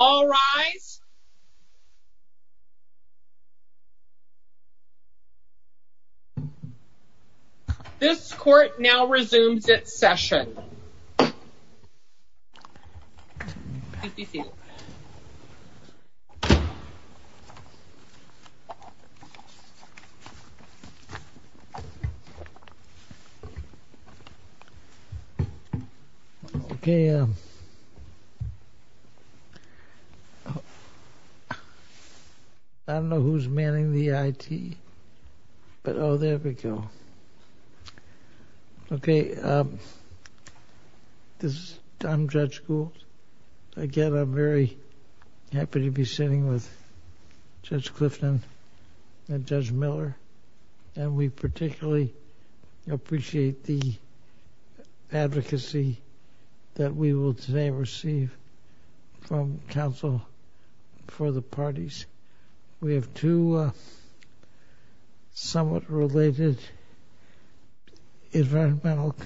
All rise. This court now resumes its session. I'm Judge Gould. Again, I'm very happy to be sitting with Judge Clifton and Judge Miller. And we particularly appreciate the advocacy that we will today receive from counsel for the parties. We have two somewhat related environmental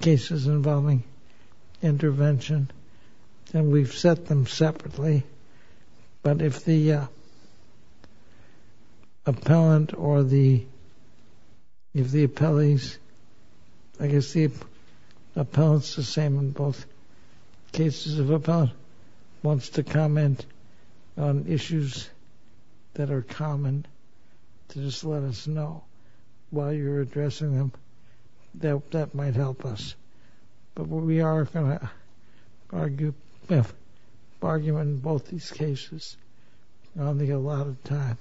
cases involving intervention, and we've set them separately. But if the appellant wants to comment on issues that are common to just let us know while you're addressing them, that might help us. But we are going to have an argument in both these cases. I don't think I have a lot of time.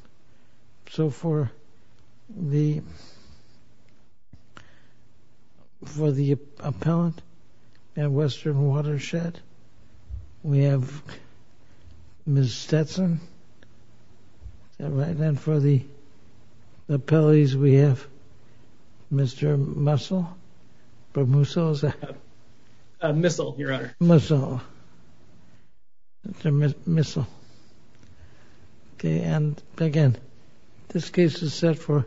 So for the appellant at Western Watershed, we have Ms. Stetson. And then for the appellees, we have Mr. Mussel. And again, this case is set for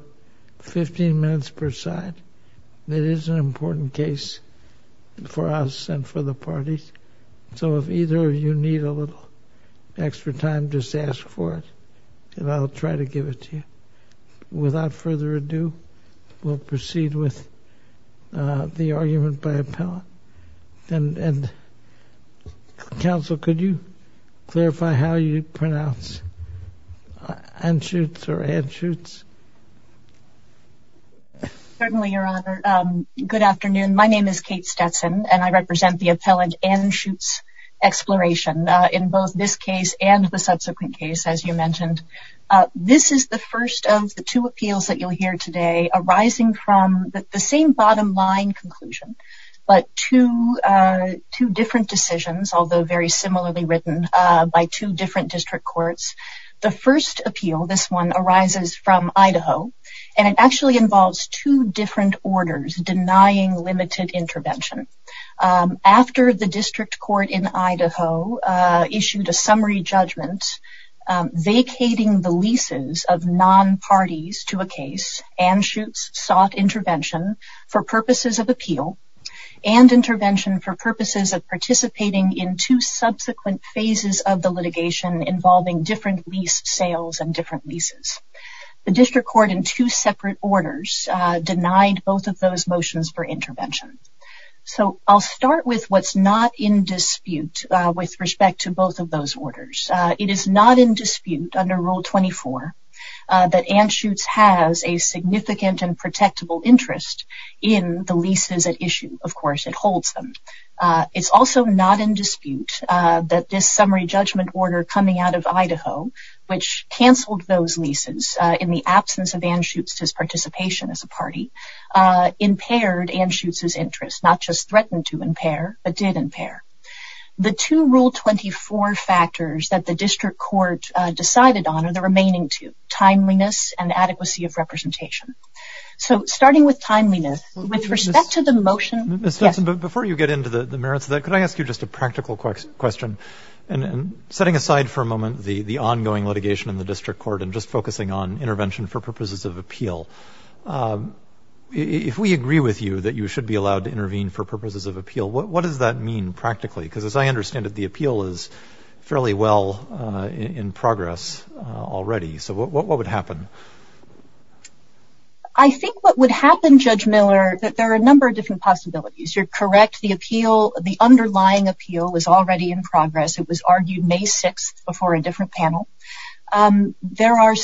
15 minutes per side. It is an important case for us and for the parties. So if either of you need a little extra time, just ask for it, and I'll try to give it to you. Without further ado, we'll proceed with the argument by appellant. And counsel, could you clarify how you pronounce Anschutz or Anschutz? Certainly, Your Honor. Good afternoon. My name is Kate Stetson, and I represent the appellant Anschutz Exploration in both this case and the subsequent case, as you mentioned. This is the first of the two appeals that you'll hear today arising from the same bottom line conclusion, but two different decisions, although very similarly written by two different district courts. The first appeal, this one, arises from Idaho, and it actually involves two different orders denying limited intervention. After the district court in Idaho issued a summary judgment vacating the leases of non-parties to a case, Anschutz sought intervention for purposes of appeal and intervention for purposes of participating in two subsequent phases of the litigation involving different lease sales and different leases. The district court in two separate orders denied both of those motions for intervention. So I'll start with what's not in dispute with respect to both of those orders. It is not in dispute under Rule 24 that Anschutz has a significant and protectable interest in the leases at issue. Of course, it holds them. It's also not in dispute that this summary judgment order coming out of Idaho, which canceled those leases in the absence of Anschutz's participation as a party, impaired Anschutz's interest, not just threatened to impair, but did impair. The two Rule 24 factors that the district court decided on are the remaining two, timeliness and adequacy of representation. So starting with timeliness, with respect to the motion. Before you get into the merits of that, could I ask you just a practical question? Setting aside for a moment the ongoing litigation in the district court and just focusing on intervention for purposes of appeal, if we agree with you that you should be allowed to intervene for purposes of appeal, what does that mean practically? Because as I understand it, the appeal is fairly well in progress already. So what would happen? I think what would happen, Judge Miller, that there are a number of different possibilities. You're correct. The appeal, the underlying appeal, was already in progress. It was argued May 6th before a different panel. There are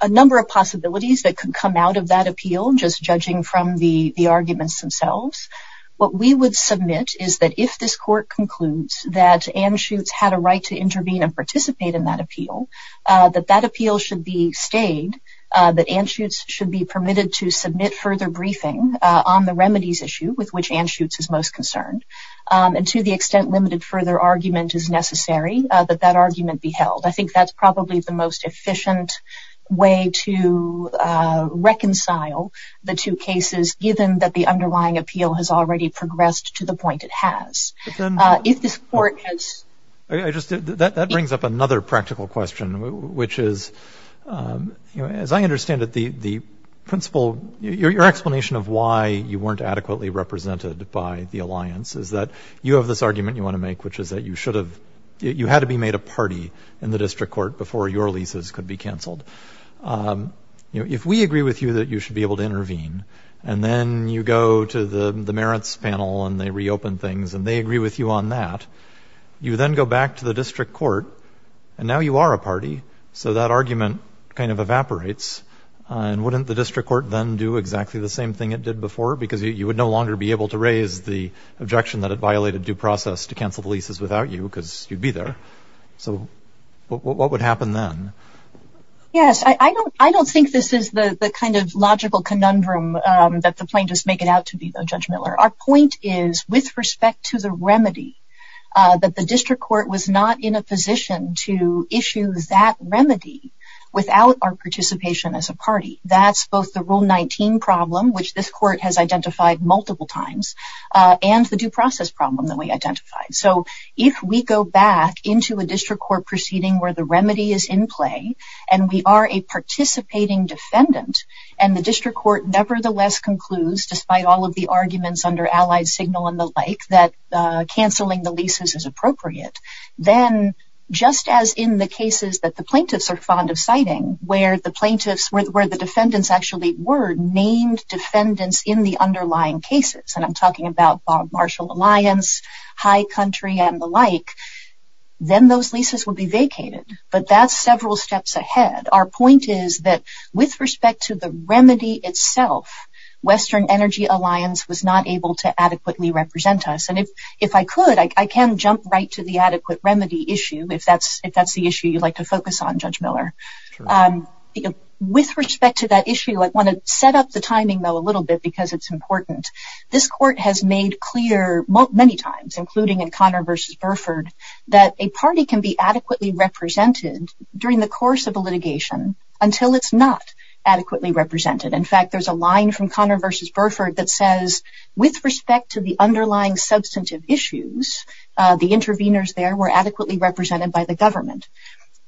a number of possibilities that could come out of that appeal, just judging from the arguments themselves. What we would submit is that if this court concludes that Anschutz had a right to intervene and participate in that appeal, that that appeal should be stayed. That Anschutz should be permitted to submit further briefing on the remedies issue with which Anschutz is most concerned. And to the extent limited further argument is necessary, that that argument be held. I think that's probably the most efficient way to reconcile the two cases, given that the underlying appeal has already progressed to the point it has. That brings up another practical question, which is, as I understand it, your explanation of why you weren't adequately represented by the alliance is that you have this argument you want to make, which is that you had to be made a party in the district court before your leases could be canceled. If we agree with you that you should be able to intervene, and then you go to the merits panel and they reopen things and they agree with you on that, you then go back to the district court, and now you are a party, so that argument kind of evaporates. And wouldn't the district court then do exactly the same thing it did before? Because you would no longer be able to raise the objection that it violated due process to cancel the leases without you, because you'd be there. So what would happen then? Yes, I don't think this is the kind of logical conundrum that the plaintiffs make it out to be, Judge Miller. Our point is, with respect to the remedy, that the district court was not in a position to issue that remedy without our participation as a party. That's both the Rule 19 problem, which this court has identified multiple times, and the due process problem that we identified. So, if we go back into a district court proceeding where the remedy is in play, and we are a participating defendant, and the district court nevertheless concludes, despite all of the arguments under Allied Signal and the like, that canceling the leases is appropriate, then, just as in the cases that the plaintiffs are fond of citing, where the defendants actually were named defendants in the underlying cases, and I'm talking about Bob Marshall Alliance, High Country, and the like, then those leases would be vacated. But that's several steps ahead. Our point is that, with respect to the remedy itself, Western Energy Alliance was not able to adequately represent us. And if I could, I can jump right to the adequate remedy issue, if that's the issue you'd like to focus on, Judge Miller. With respect to that issue, I want to set up the timing, though, a little bit, because it's important. This court has made clear many times, including in Connor v. Burford, that a party can be adequately represented during the course of a litigation until it's not adequately represented. In fact, there's a line from Connor v. Burford that says, with respect to the underlying substantive issues, the interveners there were adequately represented by the government.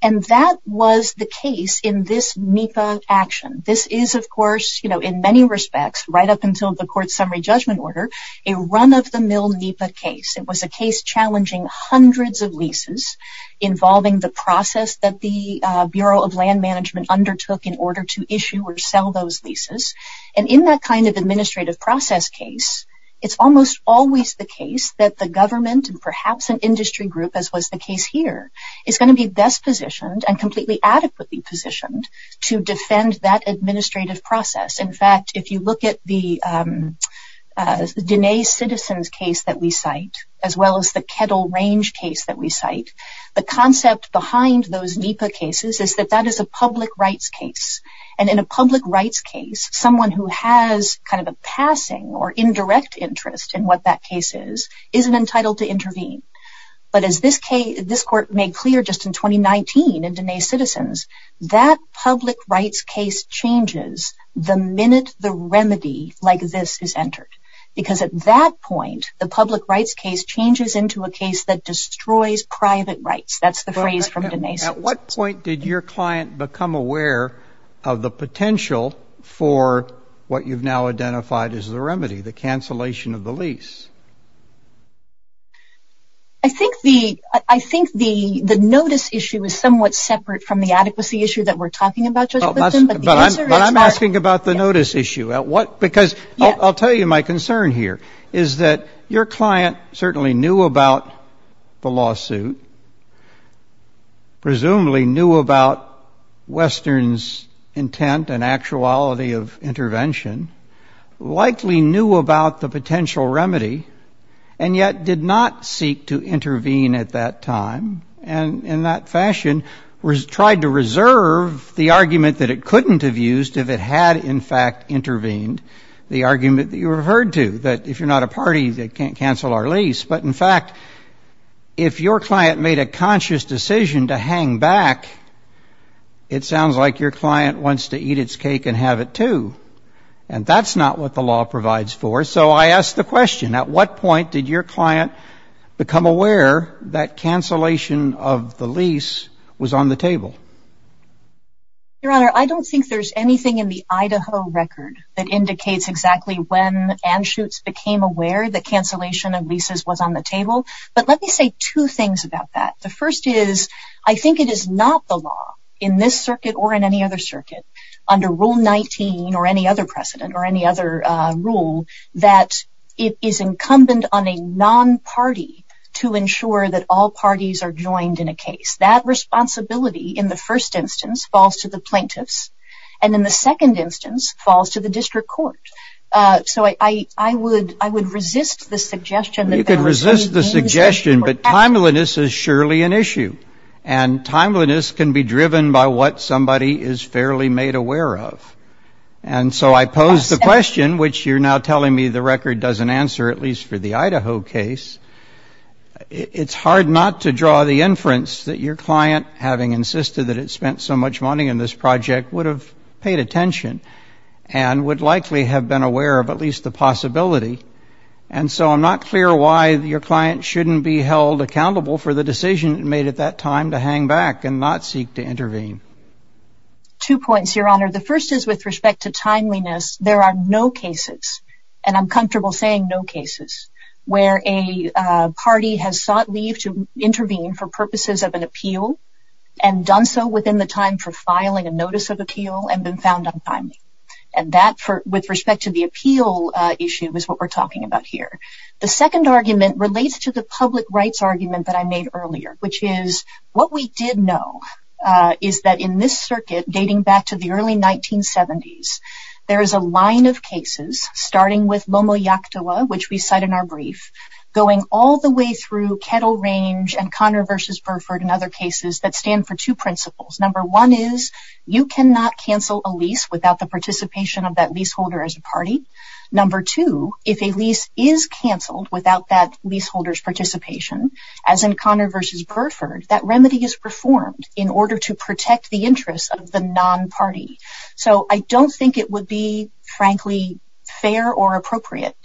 And that was the case in this NEPA action. This is, of course, in many respects, right up until the court's summary judgment order, a run-of-the-mill NEPA case. It was a case challenging hundreds of leases, involving the process that the Bureau of Land Management undertook in order to issue or sell those leases. And in that kind of administrative process case, it's almost always the case that the government and perhaps an industry group, as was the case here, is going to be best positioned and completely adequately positioned to defend that administrative process. In fact, if you look at the Denae Citizens case that we cite, as well as the Kettle Range case that we cite, the concept behind those NEPA cases is that that is a public rights case. And in a public rights case, someone who has kind of a passing or indirect interest in what that case is, isn't entitled to intervene. But as this court made clear just in 2019 in Denae Citizens, that public rights case changes the minute the remedy like this is entered. Because at that point, the public rights case changes into a case that destroys private rights. That's the phrase from Denae Citizens. At what point did your client become aware of the potential for what you've now identified as the remedy, the cancellation of the lease? I think the notice issue is somewhat separate from the adequacy issue that we're talking about. But I'm asking about the notice issue. I'll tell you my concern here, is that your client certainly knew about the lawsuit, presumably knew about Western's intent and actuality of intervention, likely knew about the potential remedy, and yet did not seek to intervene at that time, and in that fashion, tried to reserve the argument that it couldn't have used if it had in fact intervened, the argument that you referred to, that if you're not a party, they can't cancel our lease. But in fact, if your client made a conscious decision to hang back, it sounds like your client wants to eat its cake and have it too. And that's not what the law provides for. So I ask the question, at what point did your client become aware that cancellation of the lease was on the table? Your Honor, I don't think there's anything in the Idaho record that indicates exactly when Anschutz became aware that cancellation of leases was on the table. But let me say two things about that. The first is, I think it is not the law in this circuit or in any other circuit, under Rule 19 or any other precedent or any other rule, that it is incumbent on a non-party to ensure that all parties are joined in a case. That responsibility, in the first instance, falls to the plaintiffs, and in the second instance, falls to the district court. So I would resist the suggestion that there was any reason for that. You can resist the suggestion, but timeliness is surely an issue. And timeliness can be driven by what somebody is fairly made aware of. And so I pose the question, which you're now telling me the record doesn't answer, at least for the Idaho case. It's hard not to draw the inference that your client, having insisted that it spent so much money on this project, would have paid attention and would likely have been aware of at least the possibility. And so I'm not clear why your client shouldn't be held accountable for the decision made at that time to hang back and not seek to intervene. Two points, Your Honor. The first is, with respect to timeliness, there are no cases, and I'm comfortable saying no cases, where a party has sought leave to intervene for purposes of an appeal, and done so within the time for filing a notice of appeal, and been found untimely. And that, with respect to the appeal issue, is what we're talking about here. The second argument relates to the public rights argument that I made earlier, which is, what we did know is that in this circuit, dating back to the early 1970s, there is a line of cases, starting with Lomo Yactua, which we cite in our brief, going all the way through Kettle Range and Conner v. Burford and other cases that stand for two principles. Number one is, you cannot cancel a lease without the participation of that leaseholder as a party. Number two, if a lease is canceled without that leaseholder's participation, as in Conner v. Burford, that remedy is reformed in order to protect the interests of the non-party. So I don't think it would be, frankly, fair or appropriate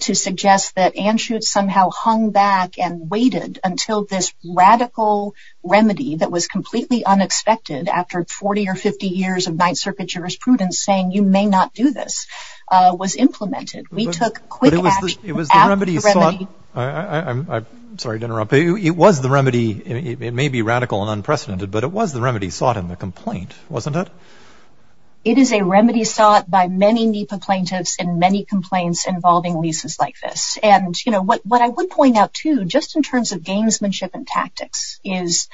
to suggest that Anschutz somehow hung back and waited until this radical remedy that was completely unexpected, after 40 or 50 years of Ninth Circuit jurisprudence saying, you may not do this, was implemented. We took quick action. I'm sorry to interrupt. It was the remedy. It may be radical and unprecedented, but it was the remedy sought in the complaint, wasn't it? It is a remedy sought by many NEPA plaintiffs and many complaints involving leases like this. And what I would point out, too, just in terms of gamesmanship and tactics, is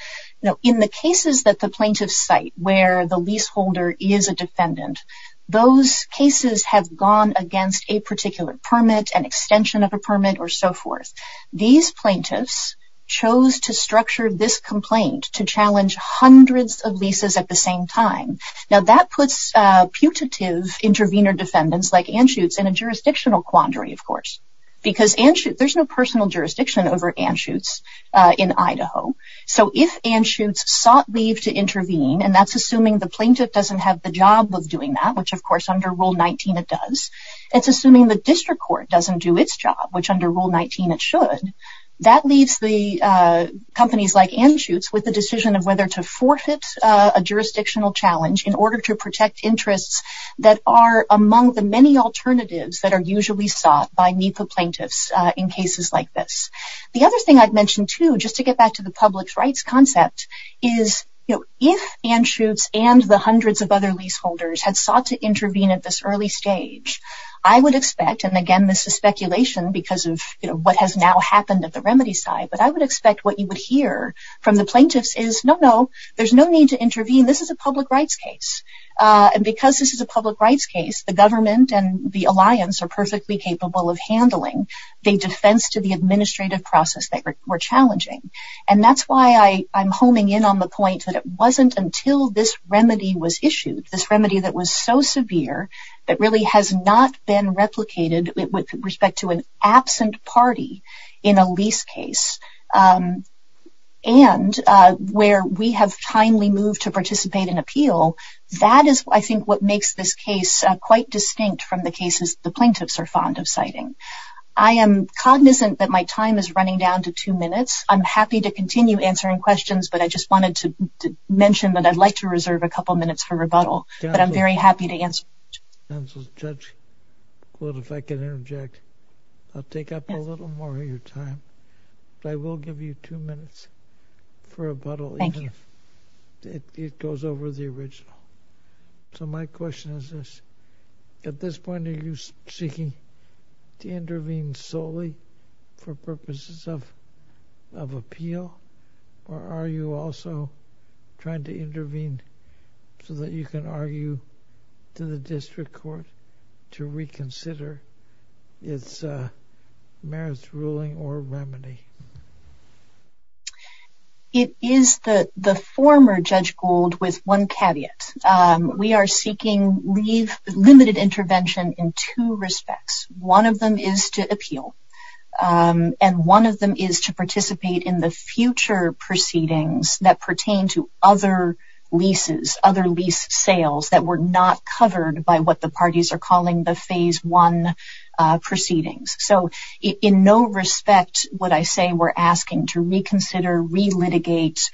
in the cases that the plaintiffs cite where the leaseholder is a defendant, those cases have gone against a particular permit, an extension of a permit, or so forth. These plaintiffs chose to structure this complaint to challenge hundreds of leases at the same time. Now, that puts putative intervener defendants like Anschutz in a jurisdictional quandary, of course, because there's no personal jurisdiction over Anschutz in Idaho. So, if Anschutz sought leave to intervene, and that's assuming the plaintiff doesn't have the job of doing that, which, of course, under Rule 19 it does. It's assuming the district court doesn't do its job, which under Rule 19 it should. That leaves the companies like Anschutz with the decision of whether to forfeit a jurisdictional challenge in order to protect interests that are among the many alternatives that are usually sought by NEPA plaintiffs in cases like this. The other thing I'd mention too, just to get back to the public rights concept, is if Anschutz and the hundreds of other leaseholders had sought to intervene at this early stage, I would expect, and again this is speculation because of what has now happened at the remedy side, but I would expect what you would hear from the plaintiffs is, no, no, there's no need to intervene, this is a public rights case. And because this is a public rights case, the government and the alliance are perfectly capable of handling the defense to the administrative process that were challenging. And that's why I'm homing in on the point that it wasn't until this remedy was issued, this remedy that was so severe that really has not been replicated with respect to an absent party in a lease case, and where we have timely moved to participate in appeal, that is, I think, what makes this case quite distinct from the cases the plaintiffs are fond of citing. I am cognizant that my time is running down to two minutes. I'm happy to continue answering questions, but I just wanted to mention that I'd like to reserve a couple minutes for rebuttal, but I'm very happy to answer. Counsel, Judge, if I could interject. I'll take up a little more of your time, but I will give you two minutes for rebuttal. Thank you. It goes over the original. So my question is this. At this point, are you seeking to intervene solely for purposes of appeal, or are you also trying to intervene so that you can argue to the district court to reconsider its merits ruling or remedy? It is the former Judge Gould with one caveat. We are seeking limited intervention in two respects. One of them is to appeal, and one of them is to participate in the future proceedings that pertain to other leases, other lease sales that were not covered by what the parties are calling the Phase I proceedings. So in no respect would I say we're asking to reconsider, re-litigate,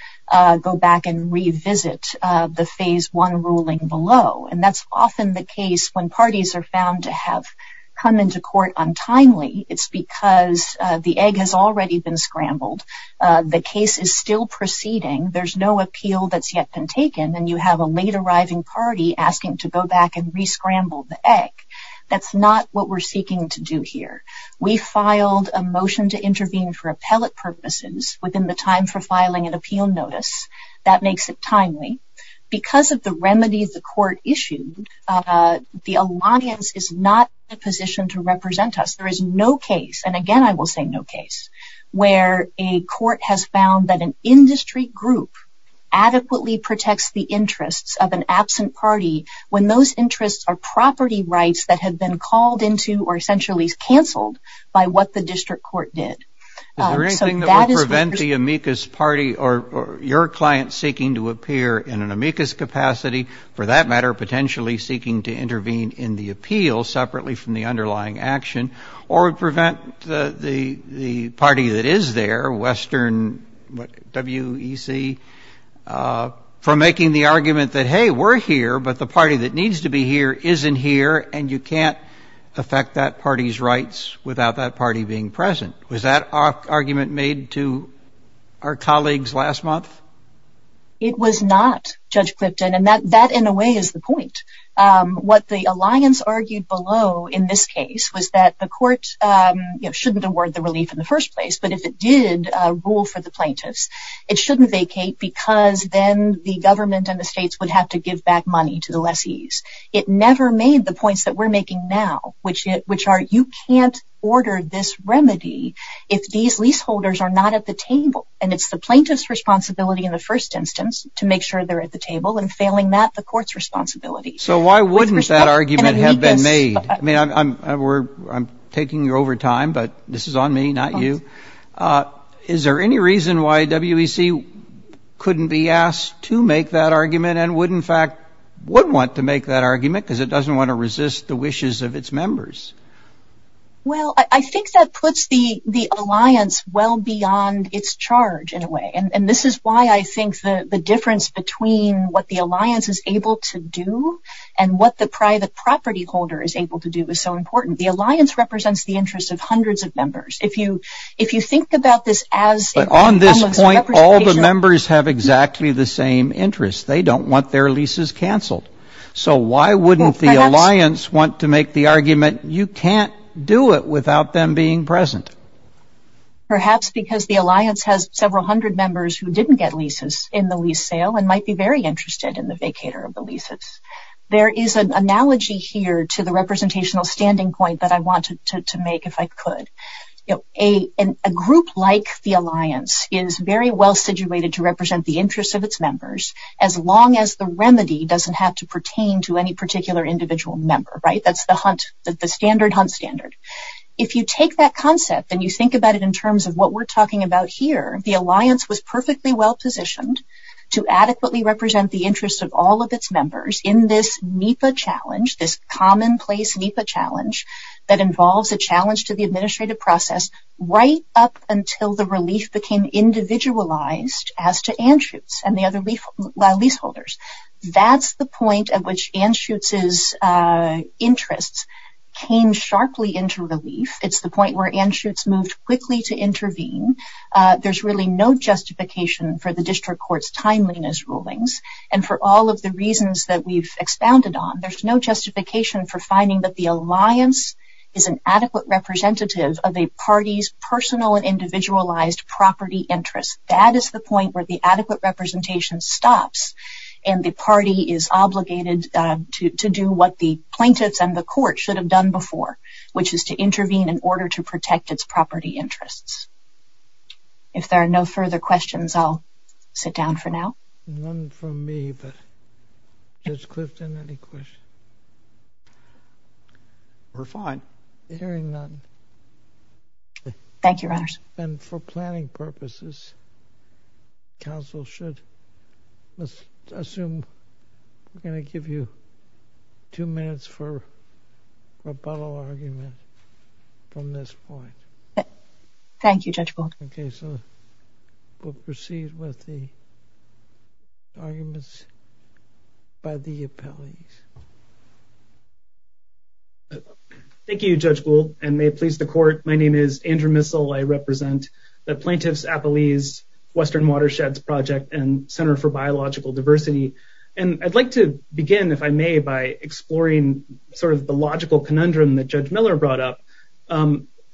go back and revisit the Phase I ruling below, and that's often the case when parties are found to have come into court untimely. It's because the egg has already been scrambled. The case is still proceeding. There's no appeal that's yet been taken, and you have a late-arriving party asking to go back and re-scramble the egg. That's not what we're seeking to do here. We filed a motion to intervene for appellate purposes within the time for filing an appeal notice. That makes it timely. Because of the remedy the court issued, the alliance is not in a position to represent us. There is no case, and again I will say no case, where a court has found that an industry group adequately protects the interests of an absent party when those interests are property rights that have been called into or essentially cancelled by what the district court did. Is there anything that would prevent the amicus party or your client seeking to appear in an amicus capacity, for that matter potentially seeking to intervene in the appeal separately from the underlying action, or prevent the party that is there, Western WEC, from making the argument that, hey, we're here, but the party that needs to be here isn't here, and you can't affect that party's rights without that party being present. Was that argument made to our colleagues last month? It was not, Judge Clifton, and that in a way is the point. What the alliance argued below in this case was that the court shouldn't award the relief in the first place, but if it did rule for the plaintiffs, it shouldn't vacate because then the government and the states would have to give back money to the lessees. It never made the points that we're making now, which are you can't order this remedy if these leaseholders are not at the table, and it's the plaintiff's responsibility in the first instance to make sure they're at the table, and failing that, the court's responsibility. So why wouldn't that argument have been made? I mean, I'm taking you over time, but this is on me, not you. Is there any reason why WEC couldn't be asked to make that argument and would in fact want to make that argument because it doesn't want to resist the wishes of its members? Well, I think that puts the alliance well beyond its charge in a way, and this is why I think the difference between what the alliance is able to do and what the private property holder is able to do is so important. The alliance represents the interests of hundreds of members. If you think about this as... But on this point, all the members have exactly the same interests. They don't want their leases canceled. So why wouldn't the alliance want to make the argument, you can't do it without them being present? Perhaps because the alliance has several hundred members who didn't get leases in the lease sale and might be very interested in the vacator of the leases. There is an analogy here to the representational standing point that I wanted to make if I could. A group like the alliance is very well situated to represent the interests of its members as long as the remedy doesn't have to pertain to any particular individual member. That's the standard hunt standard. If you take that concept and you think about it in terms of what we're talking about here, the alliance was perfectly well positioned to adequately represent the interests of all of its members in this NEPA challenge, this commonplace NEPA challenge that involves a challenge to the administrative process right up until the relief became individualized as to Anschutz and the other leaseholders. That's the point at which Anschutz's interests came sharply into relief. It's the point where Anschutz moved quickly to intervene. There's really no justification for the district court's timeliness rulings and for all of the reasons that we've expounded on. There's no justification for finding that the alliance is an adequate representative of a party's personal and individualized property interests. That is the point where the adequate representation stops and the party is obligated to do what the plaintiffs and the court should have done before, which is to intervene in order to protect its property interests. If there are no further questions, I'll sit down for now. None from me, but Judge Clifton, any questions? We're fine. Hearing none. Thank you, Your Honors. And for planning purposes, counsel should assume we're going to give you two minutes for rebuttal argument from this point. Thank you, Judge Gold. Okay, so we'll proceed with the arguments by the appellees. Thank you, Judge Gould, and may it please the court. My name is Andrew Missal. I represent the Plaintiffs Appellees Western Watersheds Project and Center for Biological Diversity. And I'd like to begin, if I may, by exploring sort of the logical conundrum that Judge Miller brought up.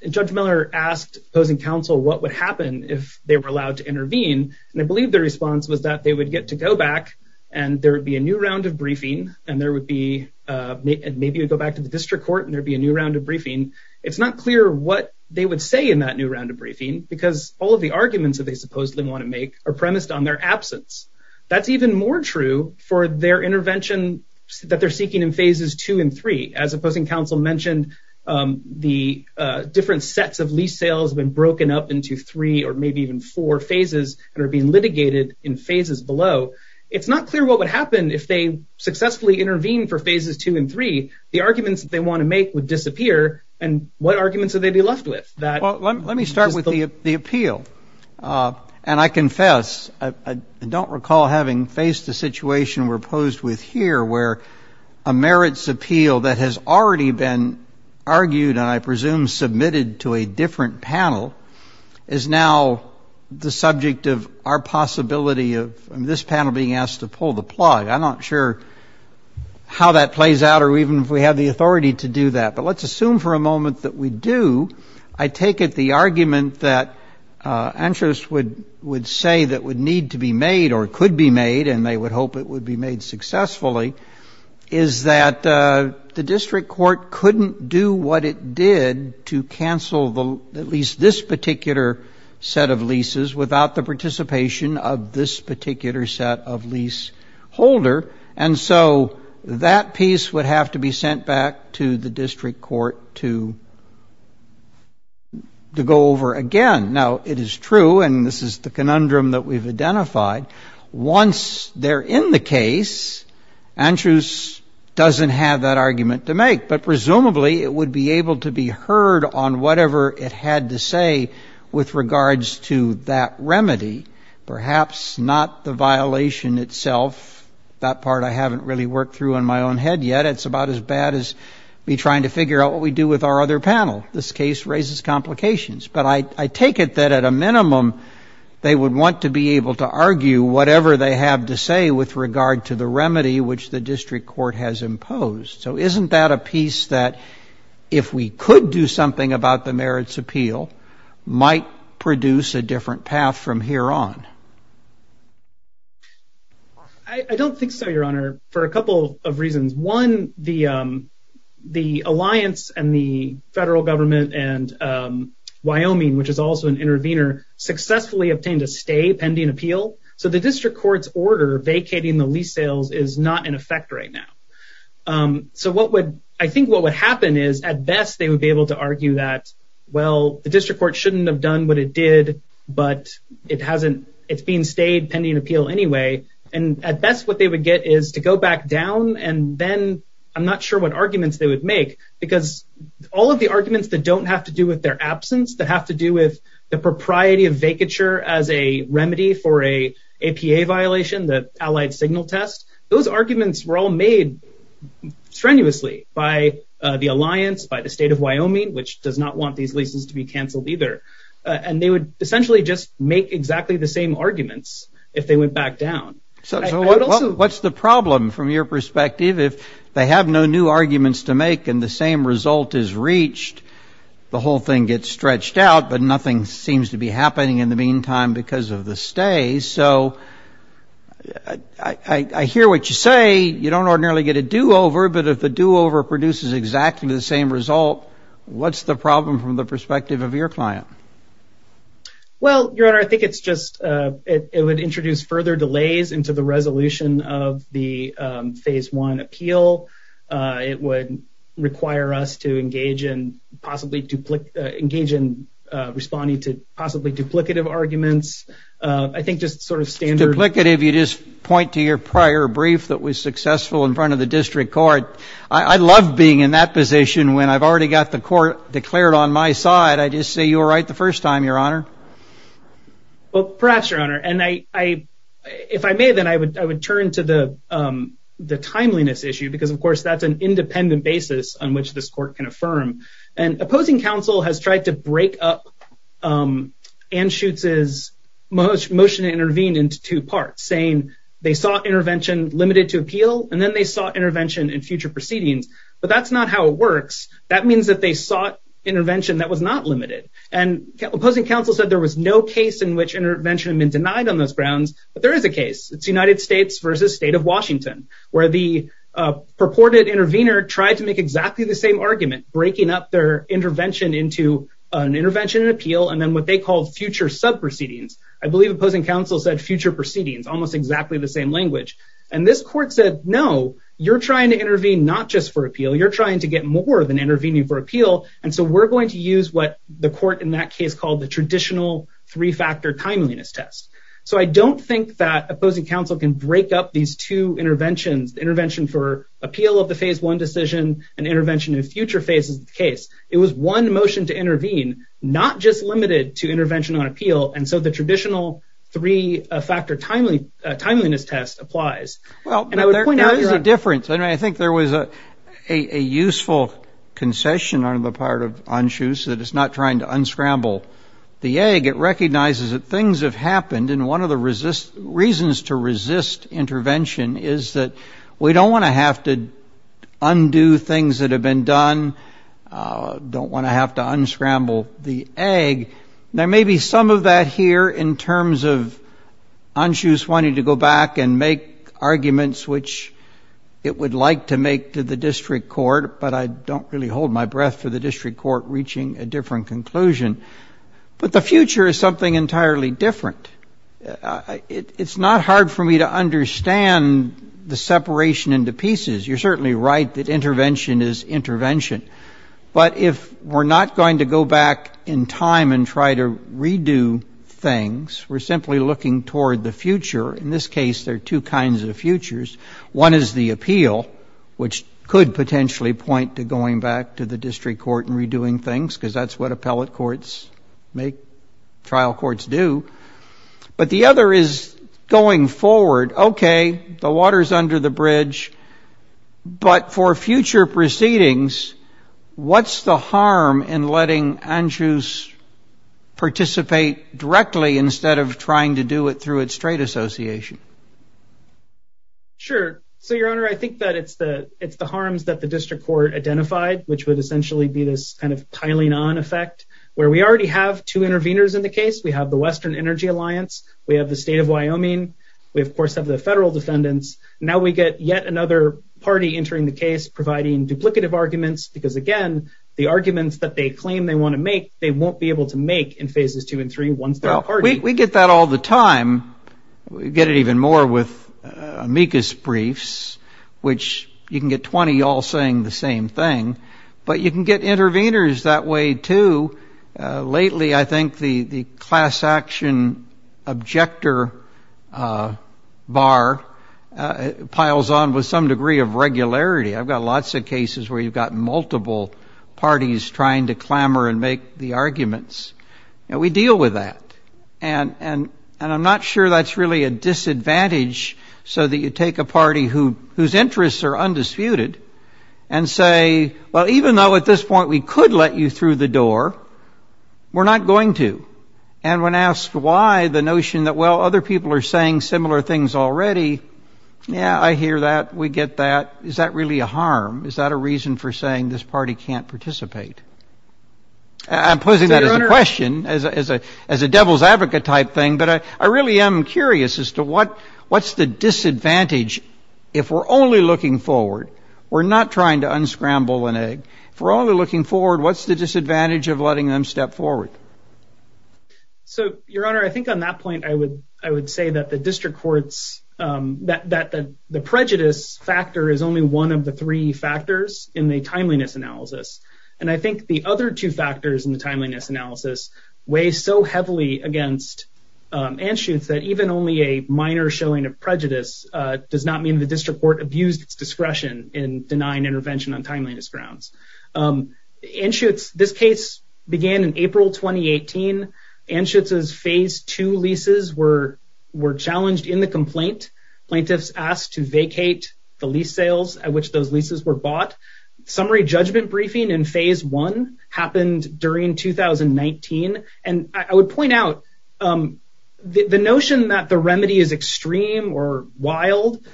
Judge Miller asked opposing counsel what would happen if they were allowed to intervene. And I believe the response was that they would get to go back and there would be a new round of briefing and there would be maybe you go back to the district court and there'd be a new round of briefing. It's not clear what they would say in that new round of briefing, because all of the arguments that they supposedly want to make are premised on their absence. That's even more true for their intervention that they're seeking in phases two and three. As opposing counsel mentioned, the different sets of lease sales have been broken up into three or maybe even four phases and are being litigated in phases below. It's not clear what would happen if they successfully intervened for phases two and three. The arguments that they want to make would disappear. And what arguments would they be left with? Well, let me start with the appeal. And I confess, I don't recall having faced a situation we're posed with here where a merits appeal that has already been argued and I presume submitted to a different panel is now the subject of our possibility of this panel being asked to pull the plug. I'm not sure how that plays out or even if we have the authority to do that. But let's assume for a moment that we do. I take it the argument that interests would say that would need to be made or could be made and they would hope it would be made successfully is that the district court couldn't do what it did to cancel at least this particular set of leases without the participation of this particular set of lease holder. And so that piece would have to be sent back to the district court to go over again. Now, it is true, and this is the conundrum that we've identified. Once they're in the case, Andrews doesn't have that argument to make. But presumably, it would be able to be heard on whatever it had to say with regards to that remedy, perhaps not the violation itself. That part I haven't really worked through in my own head yet. It's about as bad as me trying to figure out what we do with our other panel. This case raises complications. But I take it that at a minimum, they would want to be able to argue whatever they have to say with regard to the remedy, which the district court has imposed. So isn't that a piece that if we could do something about the merits appeal might produce a different path from here on? I don't think so, Your Honor, for a couple of reasons. One, the alliance and the federal government and Wyoming, which is also an intervener, successfully obtained a stay pending appeal. So the district court's order vacating the lease sales is not in effect right now. So I think what would happen is, at best, they would be able to argue that, well, the district court shouldn't have done what it did, but it's being stayed pending appeal anyway. And at best, what they would get is to go back down. And then I'm not sure what arguments they would make, because all of the arguments that don't have to do with their absence, that have to do with the propriety of vacature as a remedy for a APA violation, the allied signal test, those arguments were all made strenuously by the alliance, by the state of Wyoming, which does not want these leases to be canceled either. And they would essentially just make exactly the same arguments if they went back down. So what's the problem from your perspective if they have no new arguments to make and the same result is reached? The whole thing gets stretched out, but nothing seems to be happening in the meantime because of the stay. So I hear what you say. You don't ordinarily get a do over. But if the do over produces exactly the same result, what's the problem from the perspective of your client? Well, your honor, I think it's just it would introduce further delays into the resolution of the phase one appeal. It would require us to engage in possibly to engage in responding to possibly duplicative arguments. I think just sort of standard. Duplicative, you just point to your prior brief that was successful in front of the district court. I love being in that position when I've already got the court declared on my side. I just say you were right the first time, your honor. Well, perhaps, your honor, and I if I may, then I would I would turn to the the timeliness issue, because, of course, that's an independent basis on which this court can affirm. And opposing counsel has tried to break up Anschutz's motion to intervene into two parts, saying they sought intervention limited to appeal and then they sought intervention in future proceedings. But that's not how it works. That means that they sought intervention that was not limited. And opposing counsel said there was no case in which intervention had been denied on those grounds. But there is a case. It's United States versus state of Washington, where the purported intervener tried to make exactly the same argument, breaking up their intervention into an intervention and appeal and then what they call future sub proceedings. I believe opposing counsel said future proceedings, almost exactly the same language. And this court said, no, you're trying to intervene, not just for appeal. You're trying to get more than intervening for appeal. And so we're going to use what the court in that case called the traditional three factor timeliness test. So I don't think that opposing counsel can break up these two interventions, intervention for appeal of the phase one decision and intervention in future phases of the case. It was one motion to intervene, not just limited to intervention on appeal. And so the traditional three factor timely timeliness test applies. Well, there is a difference. I think there was a useful concession on the part of Anschutz that it's not trying to unscramble the egg. It recognizes that things have happened. And one of the reasons to resist intervention is that we don't want to have to undo things that have been done. Don't want to have to unscramble the egg. There may be some of that here in terms of Anschutz wanting to go back and make arguments, which it would like to make to the district court. But I don't really hold my breath for the district court reaching a different conclusion. But the future is something entirely different. It's not hard for me to understand the separation into pieces. You're certainly right that intervention is intervention. But if we're not going to go back in time and try to redo things, we're simply looking toward the future. In this case, there are two kinds of futures. One is the appeal, which could potentially point to going back to the district court and redoing things, because that's what appellate courts make trial courts do. But the other is going forward. OK, the water's under the bridge. But for future proceedings, what's the harm in letting Anschutz participate directly instead of trying to do it through its trade association? Sure. So, Your Honor, I think that it's the harms that the district court identified, which would essentially be this kind of piling-on effect, where we already have two interveners in the case. We have the Western Energy Alliance. We have the state of Wyoming. We, of course, have the federal defendants. Now we get yet another party entering the case, providing duplicative arguments, because, again, the arguments that they claim they want to make, they won't be able to make in phases two and three once they're a party. We get that all the time. We get it even more with amicus briefs, which you can get 20 all saying the same thing. But you can get interveners that way, too. Lately, I think the class action objector bar piles on with some degree of regularity. I've got lots of cases where you've got multiple parties trying to clamor and make the arguments. We deal with that. And I'm not sure that's really a disadvantage, so that you take a party whose interests are undisputed and say, well, even though at this point we could let you through the door, we're not going to. And when asked why the notion that, well, other people are saying similar things already, yeah, I hear that. We get that. Is that really a harm? Is that a reason for saying this party can't participate? I'm posing that as a question, as a devil's advocate type thing. But I really am curious as to what's the disadvantage if we're only looking forward? We're not trying to unscramble an egg. If we're only looking forward, what's the disadvantage of letting them step forward? So, Your Honor, I think on that point, I would say that the district courts, that the prejudice factor is only one of the three factors in the timeliness analysis. And I think the other two factors in the timeliness analysis weigh so heavily against Anschutz that even only a minor showing of prejudice does not mean the district court abused its discretion in denying intervention on timeliness grounds. Anschutz, this case began in April 2018. Anschutz's Phase 2 leases were challenged in the complaint. Plaintiffs asked to vacate the lease sales at which those leases were bought. Summary judgment briefing in Phase 1 happened during 2019. And I would point out the notion that the remedy is extreme or wild,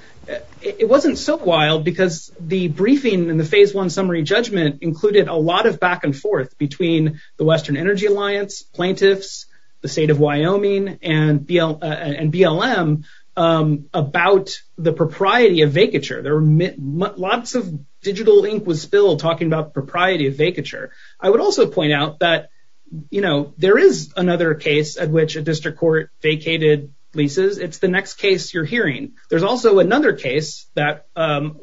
it wasn't so wild because the briefing in the Phase 1 summary judgment included a lot of back and forth between the Western Energy Alliance, plaintiffs, the state of Wyoming, and BLM about the propriety of vacature. Lots of digital ink was spilled talking about propriety of vacature. I would also point out that, you know, there is another case at which a district court vacated leases. It's the next case you're hearing. There's also another case where an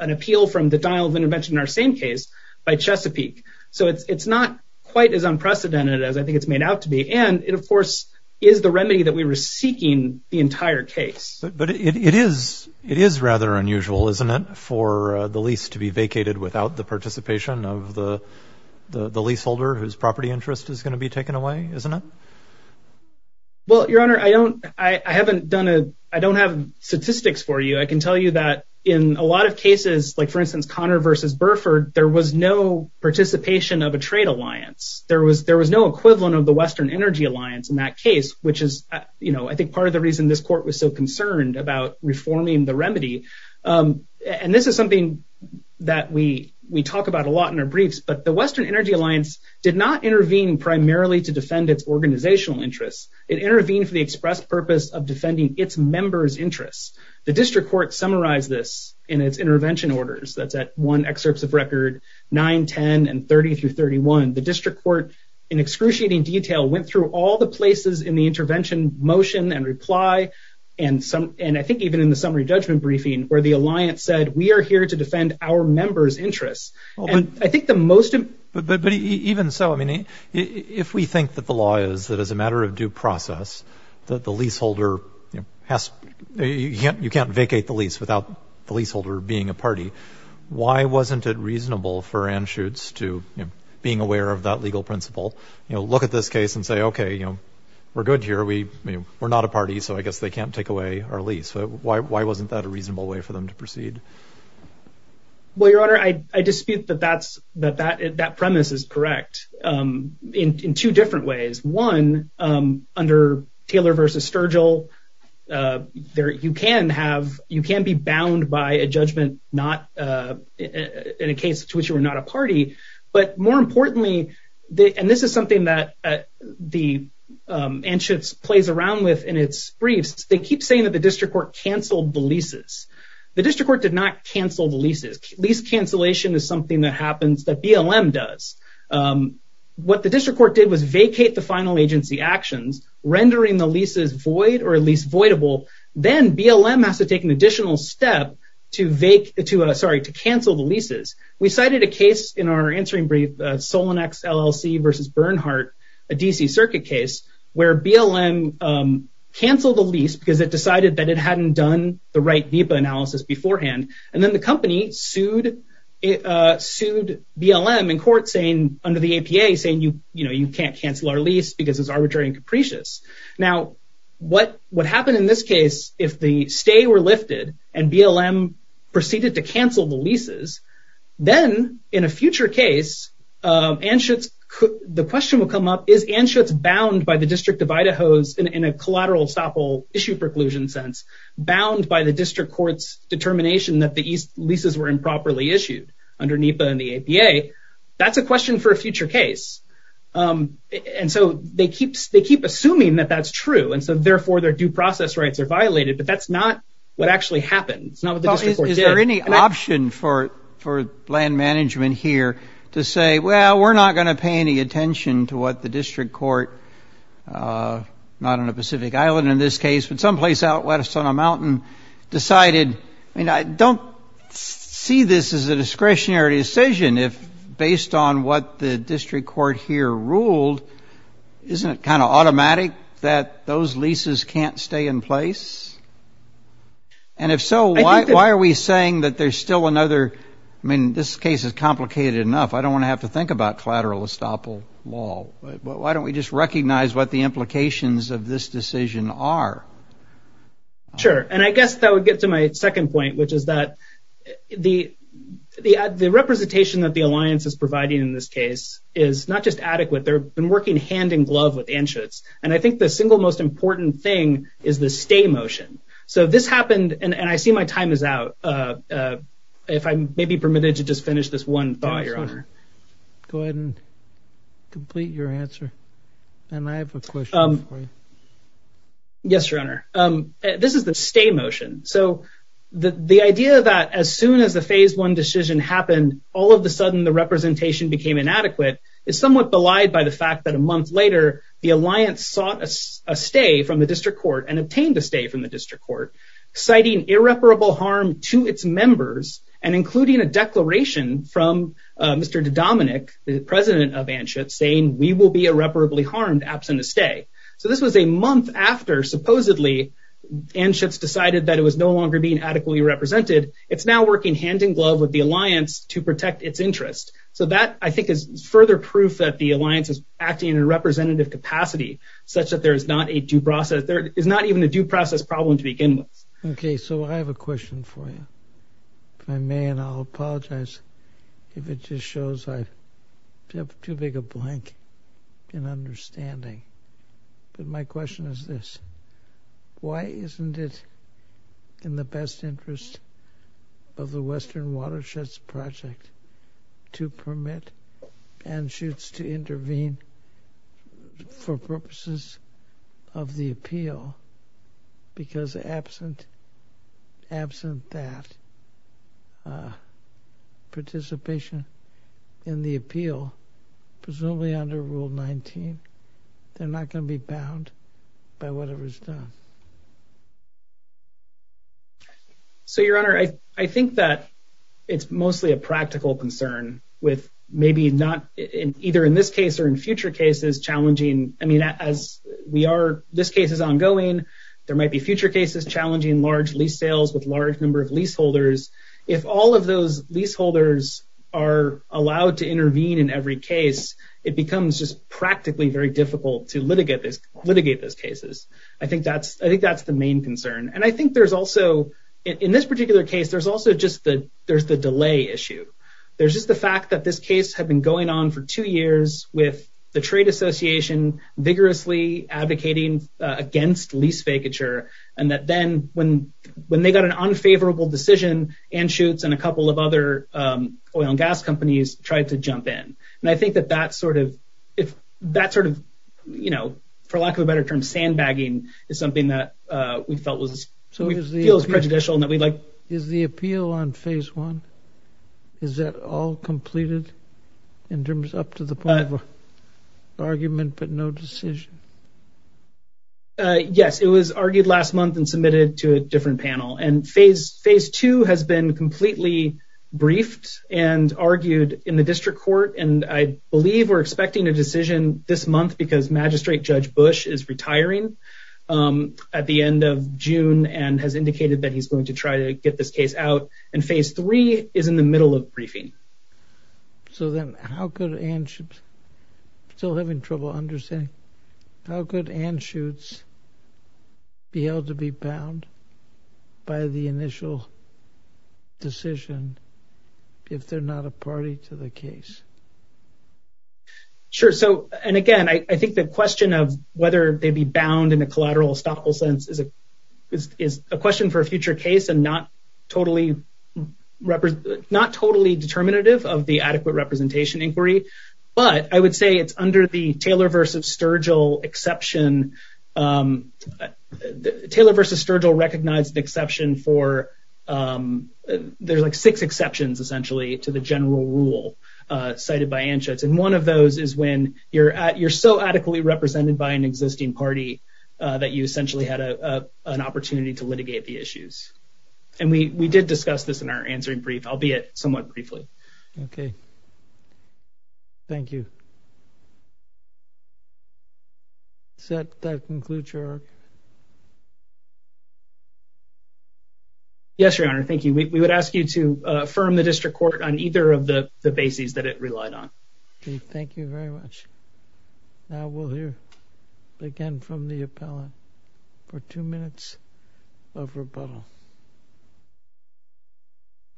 appeal from the dial of intervention in our same case by Chesapeake. So it's not quite as unprecedented as I think it's made out to be. And it, of course, is the remedy that we were seeking the entire case. But it is rather unusual, isn't it, for the lease to be vacated without the participation of the leaseholder whose property interest is going to be taken away, isn't it? Well, Your Honor, I don't have statistics for you. I can tell you that in a lot of cases, like, for instance, Connor v. Burford, there was no participation of a trade alliance. There was no equivalent of the Western Energy Alliance in that case, which is, you know, I think part of the reason this court was so concerned about reforming the remedy. And this is something that we talk about a lot in our briefs. But the Western Energy Alliance did not intervene primarily to defend its organizational interests. It intervened for the express purpose of defending its members' interests. The district court summarized this in its intervention orders. That's at one excerpt of record, 9, 10, and 30 through 31. The district court, in excruciating detail, went through all the places in the intervention motion and reply, and I think even in the summary judgment briefing, where the alliance said, we are here to defend our members' interests. And I think the most— But even so, I mean, if we think that the law is that as a matter of due process, that the leaseholder has—you can't vacate the lease without the leaseholder being a party, why wasn't it reasonable for Anschutz to, you know, being aware of that legal principle, you know, look at this case and say, okay, you know, we're good here. We're not a party, so I guess they can't take away our lease. Why wasn't that a reasonable way for them to proceed? Well, Your Honor, I dispute that that premise is correct in two different ways. One, under Taylor v. Sturgill, you can have—you can be bound by a judgment not—in a case to which you are not a party. But more importantly, and this is something that the Anschutz plays around with in its briefs, they keep saying that the district court canceled the leases. The district court did not cancel the leases. Lease cancellation is something that happens, that BLM does. What the district court did was vacate the final agency actions, rendering the leases void or at least voidable. Then BLM has to take an additional step to vacate—sorry, to cancel the leases. We cited a case in our answering brief, Solon X LLC v. Bernhardt, a D.C. Circuit case, where BLM canceled the lease because it decided that it hadn't done the right VIPA analysis beforehand. And then the company sued BLM in court under the APA, saying, you know, you can't cancel our lease because it's arbitrary and capricious. Now, what happened in this case, if the stay were lifted and BLM proceeded to cancel the leases, then in a future case, the question will come up, is Anschutz bound by the District of Idaho's, in a collateral estoppel issue preclusion sense, bound by the district court's determination that the leases were improperly issued under NEPA and the APA? That's a question for a future case. And so they keep assuming that that's true, and so therefore their due process rights are violated. But that's not what actually happened. It's not what the district court did. Is there any option for land management here to say, well, we're not going to pay any attention to what the district court, not on a Pacific island in this case, but someplace out west on a mountain, decided, I mean, I don't see this as a discretionary decision if based on what the district court here ruled, isn't it kind of automatic that those leases can't stay in place? And if so, why are we saying that there's still another? I mean, this case is complicated enough. I don't want to have to think about collateral estoppel law. But why don't we just recognize what the implications of this decision are? Sure. And I guess that would get to my second point, which is that the representation that the alliance is providing in this case is not just adequate. They've been working hand in glove with Anschutz. And I think the single most important thing is the stay motion. So this happened, and I see my time is out. If I may be permitted to just finish this one thought here. Go ahead and complete your answer. And I have a question. Yes, your honor. This is the stay motion. So the idea that as soon as the phase one decision happened, all of a sudden the representation became inadequate is somewhat belied by the fact that a month later, the alliance sought a stay from the district court and obtained a stay from the district court, citing irreparable harm to its members and including a declaration from Mr. Dominic, the president of Anschutz, saying we will be irreparably harmed absent a stay. So this was a month after supposedly Anschutz decided that it was no longer being adequately represented. It's now working hand in glove with the alliance to protect its interest. So that, I think, is further proof that the alliance is acting in a representative capacity such that there is not a due process. Okay. So I have a question for you. If I may, and I'll apologize if it just shows I have too big a blank in understanding. But my question is this. Why isn't it in the best interest of the Western Watersheds Project to permit Anschutz to intervene for purposes of the appeal? Because absent that participation in the appeal, presumably under Rule 19, they're not going to be bound by whatever is done. So, Your Honor, I think that it's mostly a practical concern with maybe not, either in this case or in future cases, challenging. I mean, as we are, this case is ongoing. There might be future cases challenging large lease sales with large number of leaseholders. If all of those leaseholders are allowed to intervene in every case, it becomes just practically very difficult to litigate those cases. I think that's the main concern. And I think there's also, in this particular case, there's also just the delay issue. There's just the fact that this case had been going on for two years with the Trade Association vigorously advocating against lease vacature. And that then when they got an unfavorable decision, Anschutz and a couple of other oil and gas companies tried to jump in. And I think that that sort of, you know, for lack of a better term, sandbagging is something that we felt was prejudicial. Is the appeal on phase one, is that all completed in terms up to the point of argument but no decision? Yes, it was argued last month and submitted to a different panel. And phase two has been completely briefed and argued in the district court. And I believe we're expecting a decision this month because Magistrate Judge Bush is retiring at the end of June and has indicated that he's going to try to get this case out. And phase three is in the middle of briefing. So then how could Anschutz, still having trouble understanding, how could Anschutz be held to be bound by the initial decision if they're not a party to the case? Sure. So, and again, I think the question of whether they'd be bound in a collateral estoppel sense is a question for a future case and not totally representative, not totally determinative of the adequate representation inquiry. But I would say it's under the Taylor versus Sturgill exception. Taylor versus Sturgill recognized the exception for, there's like six exceptions essentially to the general rule cited by Anschutz. And one of those is when you're so adequately represented by an existing party that you essentially had an opportunity to litigate the issues. And we did discuss this in our answering brief, albeit somewhat briefly. Okay. Thank you. Does that conclude your argument? Yes, Your Honor. Thank you. We would ask you to affirm the district court on either of the bases that it relied on. Okay. Thank you very much. Now we'll hear again from the appellant for two minutes of rebuttal.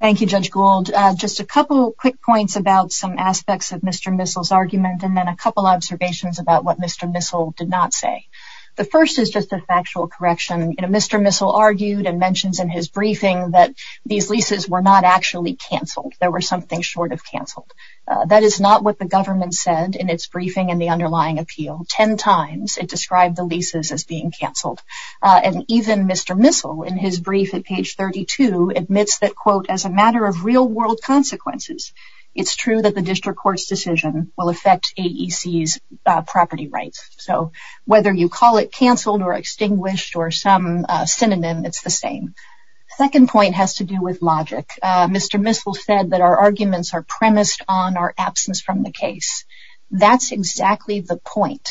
Thank you, Judge Gould. Just a couple quick points about some aspects of Mr. Missel's argument and then a couple observations about what Mr. Missel did not say. The first is just a factual correction. You know, Mr. Missel argued and mentions in his briefing that these leases were not actually canceled. There were something short of canceled. That is not what the government said in its briefing and the underlying appeal. Ten times it described the leases as being canceled. And even Mr. Missel in his brief at page 32 admits that, quote, as a matter of real-world consequences, it's true that the district court's decision will affect AEC's property rights. So whether you call it canceled or extinguished or some synonym, it's the same. The second point has to do with logic. Mr. Missel said that our arguments are premised on our absence from the case. That's exactly the point.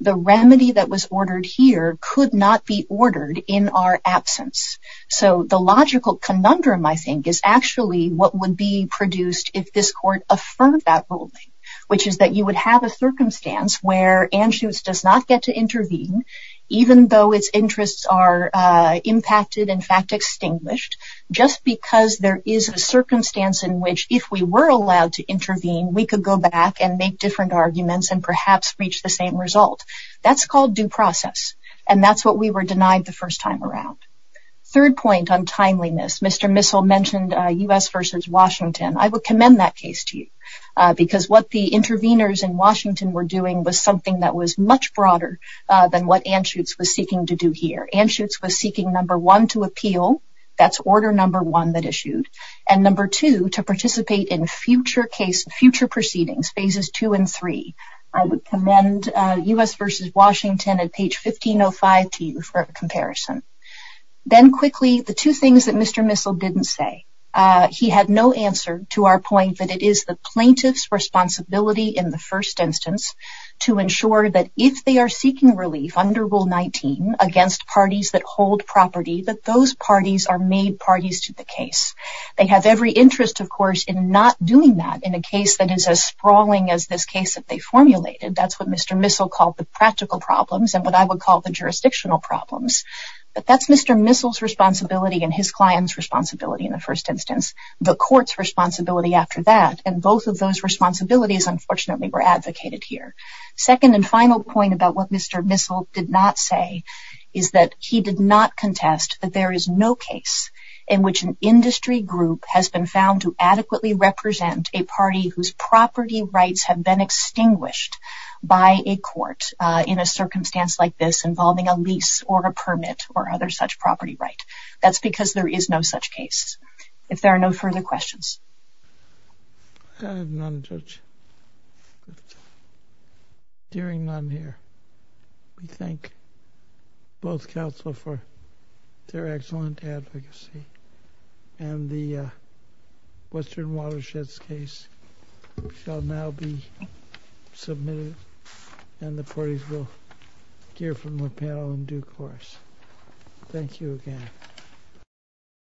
The remedy that was ordered here could not be ordered in our absence. So the logical conundrum, I think, is actually what would be produced if this court affirmed that ruling, which is that you would have a circumstance where Anschutz does not get to intervene, even though its interests are impacted, in fact, extinguished, just because there is a circumstance in which if we were allowed to intervene, we could go back and make different arguments and perhaps reach the same result. That's called due process, and that's what we were denied the first time around. Third point on timeliness. Mr. Missel mentioned U.S. v. Washington. I would commend that case to you because what the interveners in Washington were doing was something that was much broader than what Anschutz was seeking to do here. Anschutz was seeking, number one, to appeal. That's order number one that issued. And number two, to participate in future proceedings, phases two and three. I would commend U.S. v. Washington at page 1505 to you for a comparison. Then quickly, the two things that Mr. Missel didn't say. He had no answer to our point that it is the plaintiff's responsibility in the first instance to ensure that if they are seeking relief under Rule 19 against parties that hold property, that those parties are made parties to the case. They have every interest, of course, in not doing that in a case that is as sprawling as this case that they formulated. That's what Mr. Missel called the practical problems and what I would call the jurisdictional problems. But that's Mr. Missel's responsibility and his client's responsibility in the first instance, the court's responsibility after that, and both of those responsibilities, unfortunately, were advocated here. Second and final point about what Mr. Missel did not say is that he did not contest that there is no case in which an industry group has been found to adequately represent a party whose property rights have been extinguished by a court in a circumstance like this involving a lease or a permit or other such property right. That's because there is no such case. If there are no further questions. Dearing none here, we thank both counsel for their excellent advocacy, and the Western Watersheds case shall now be submitted and the parties will hear from the panel in due course. Thank you again.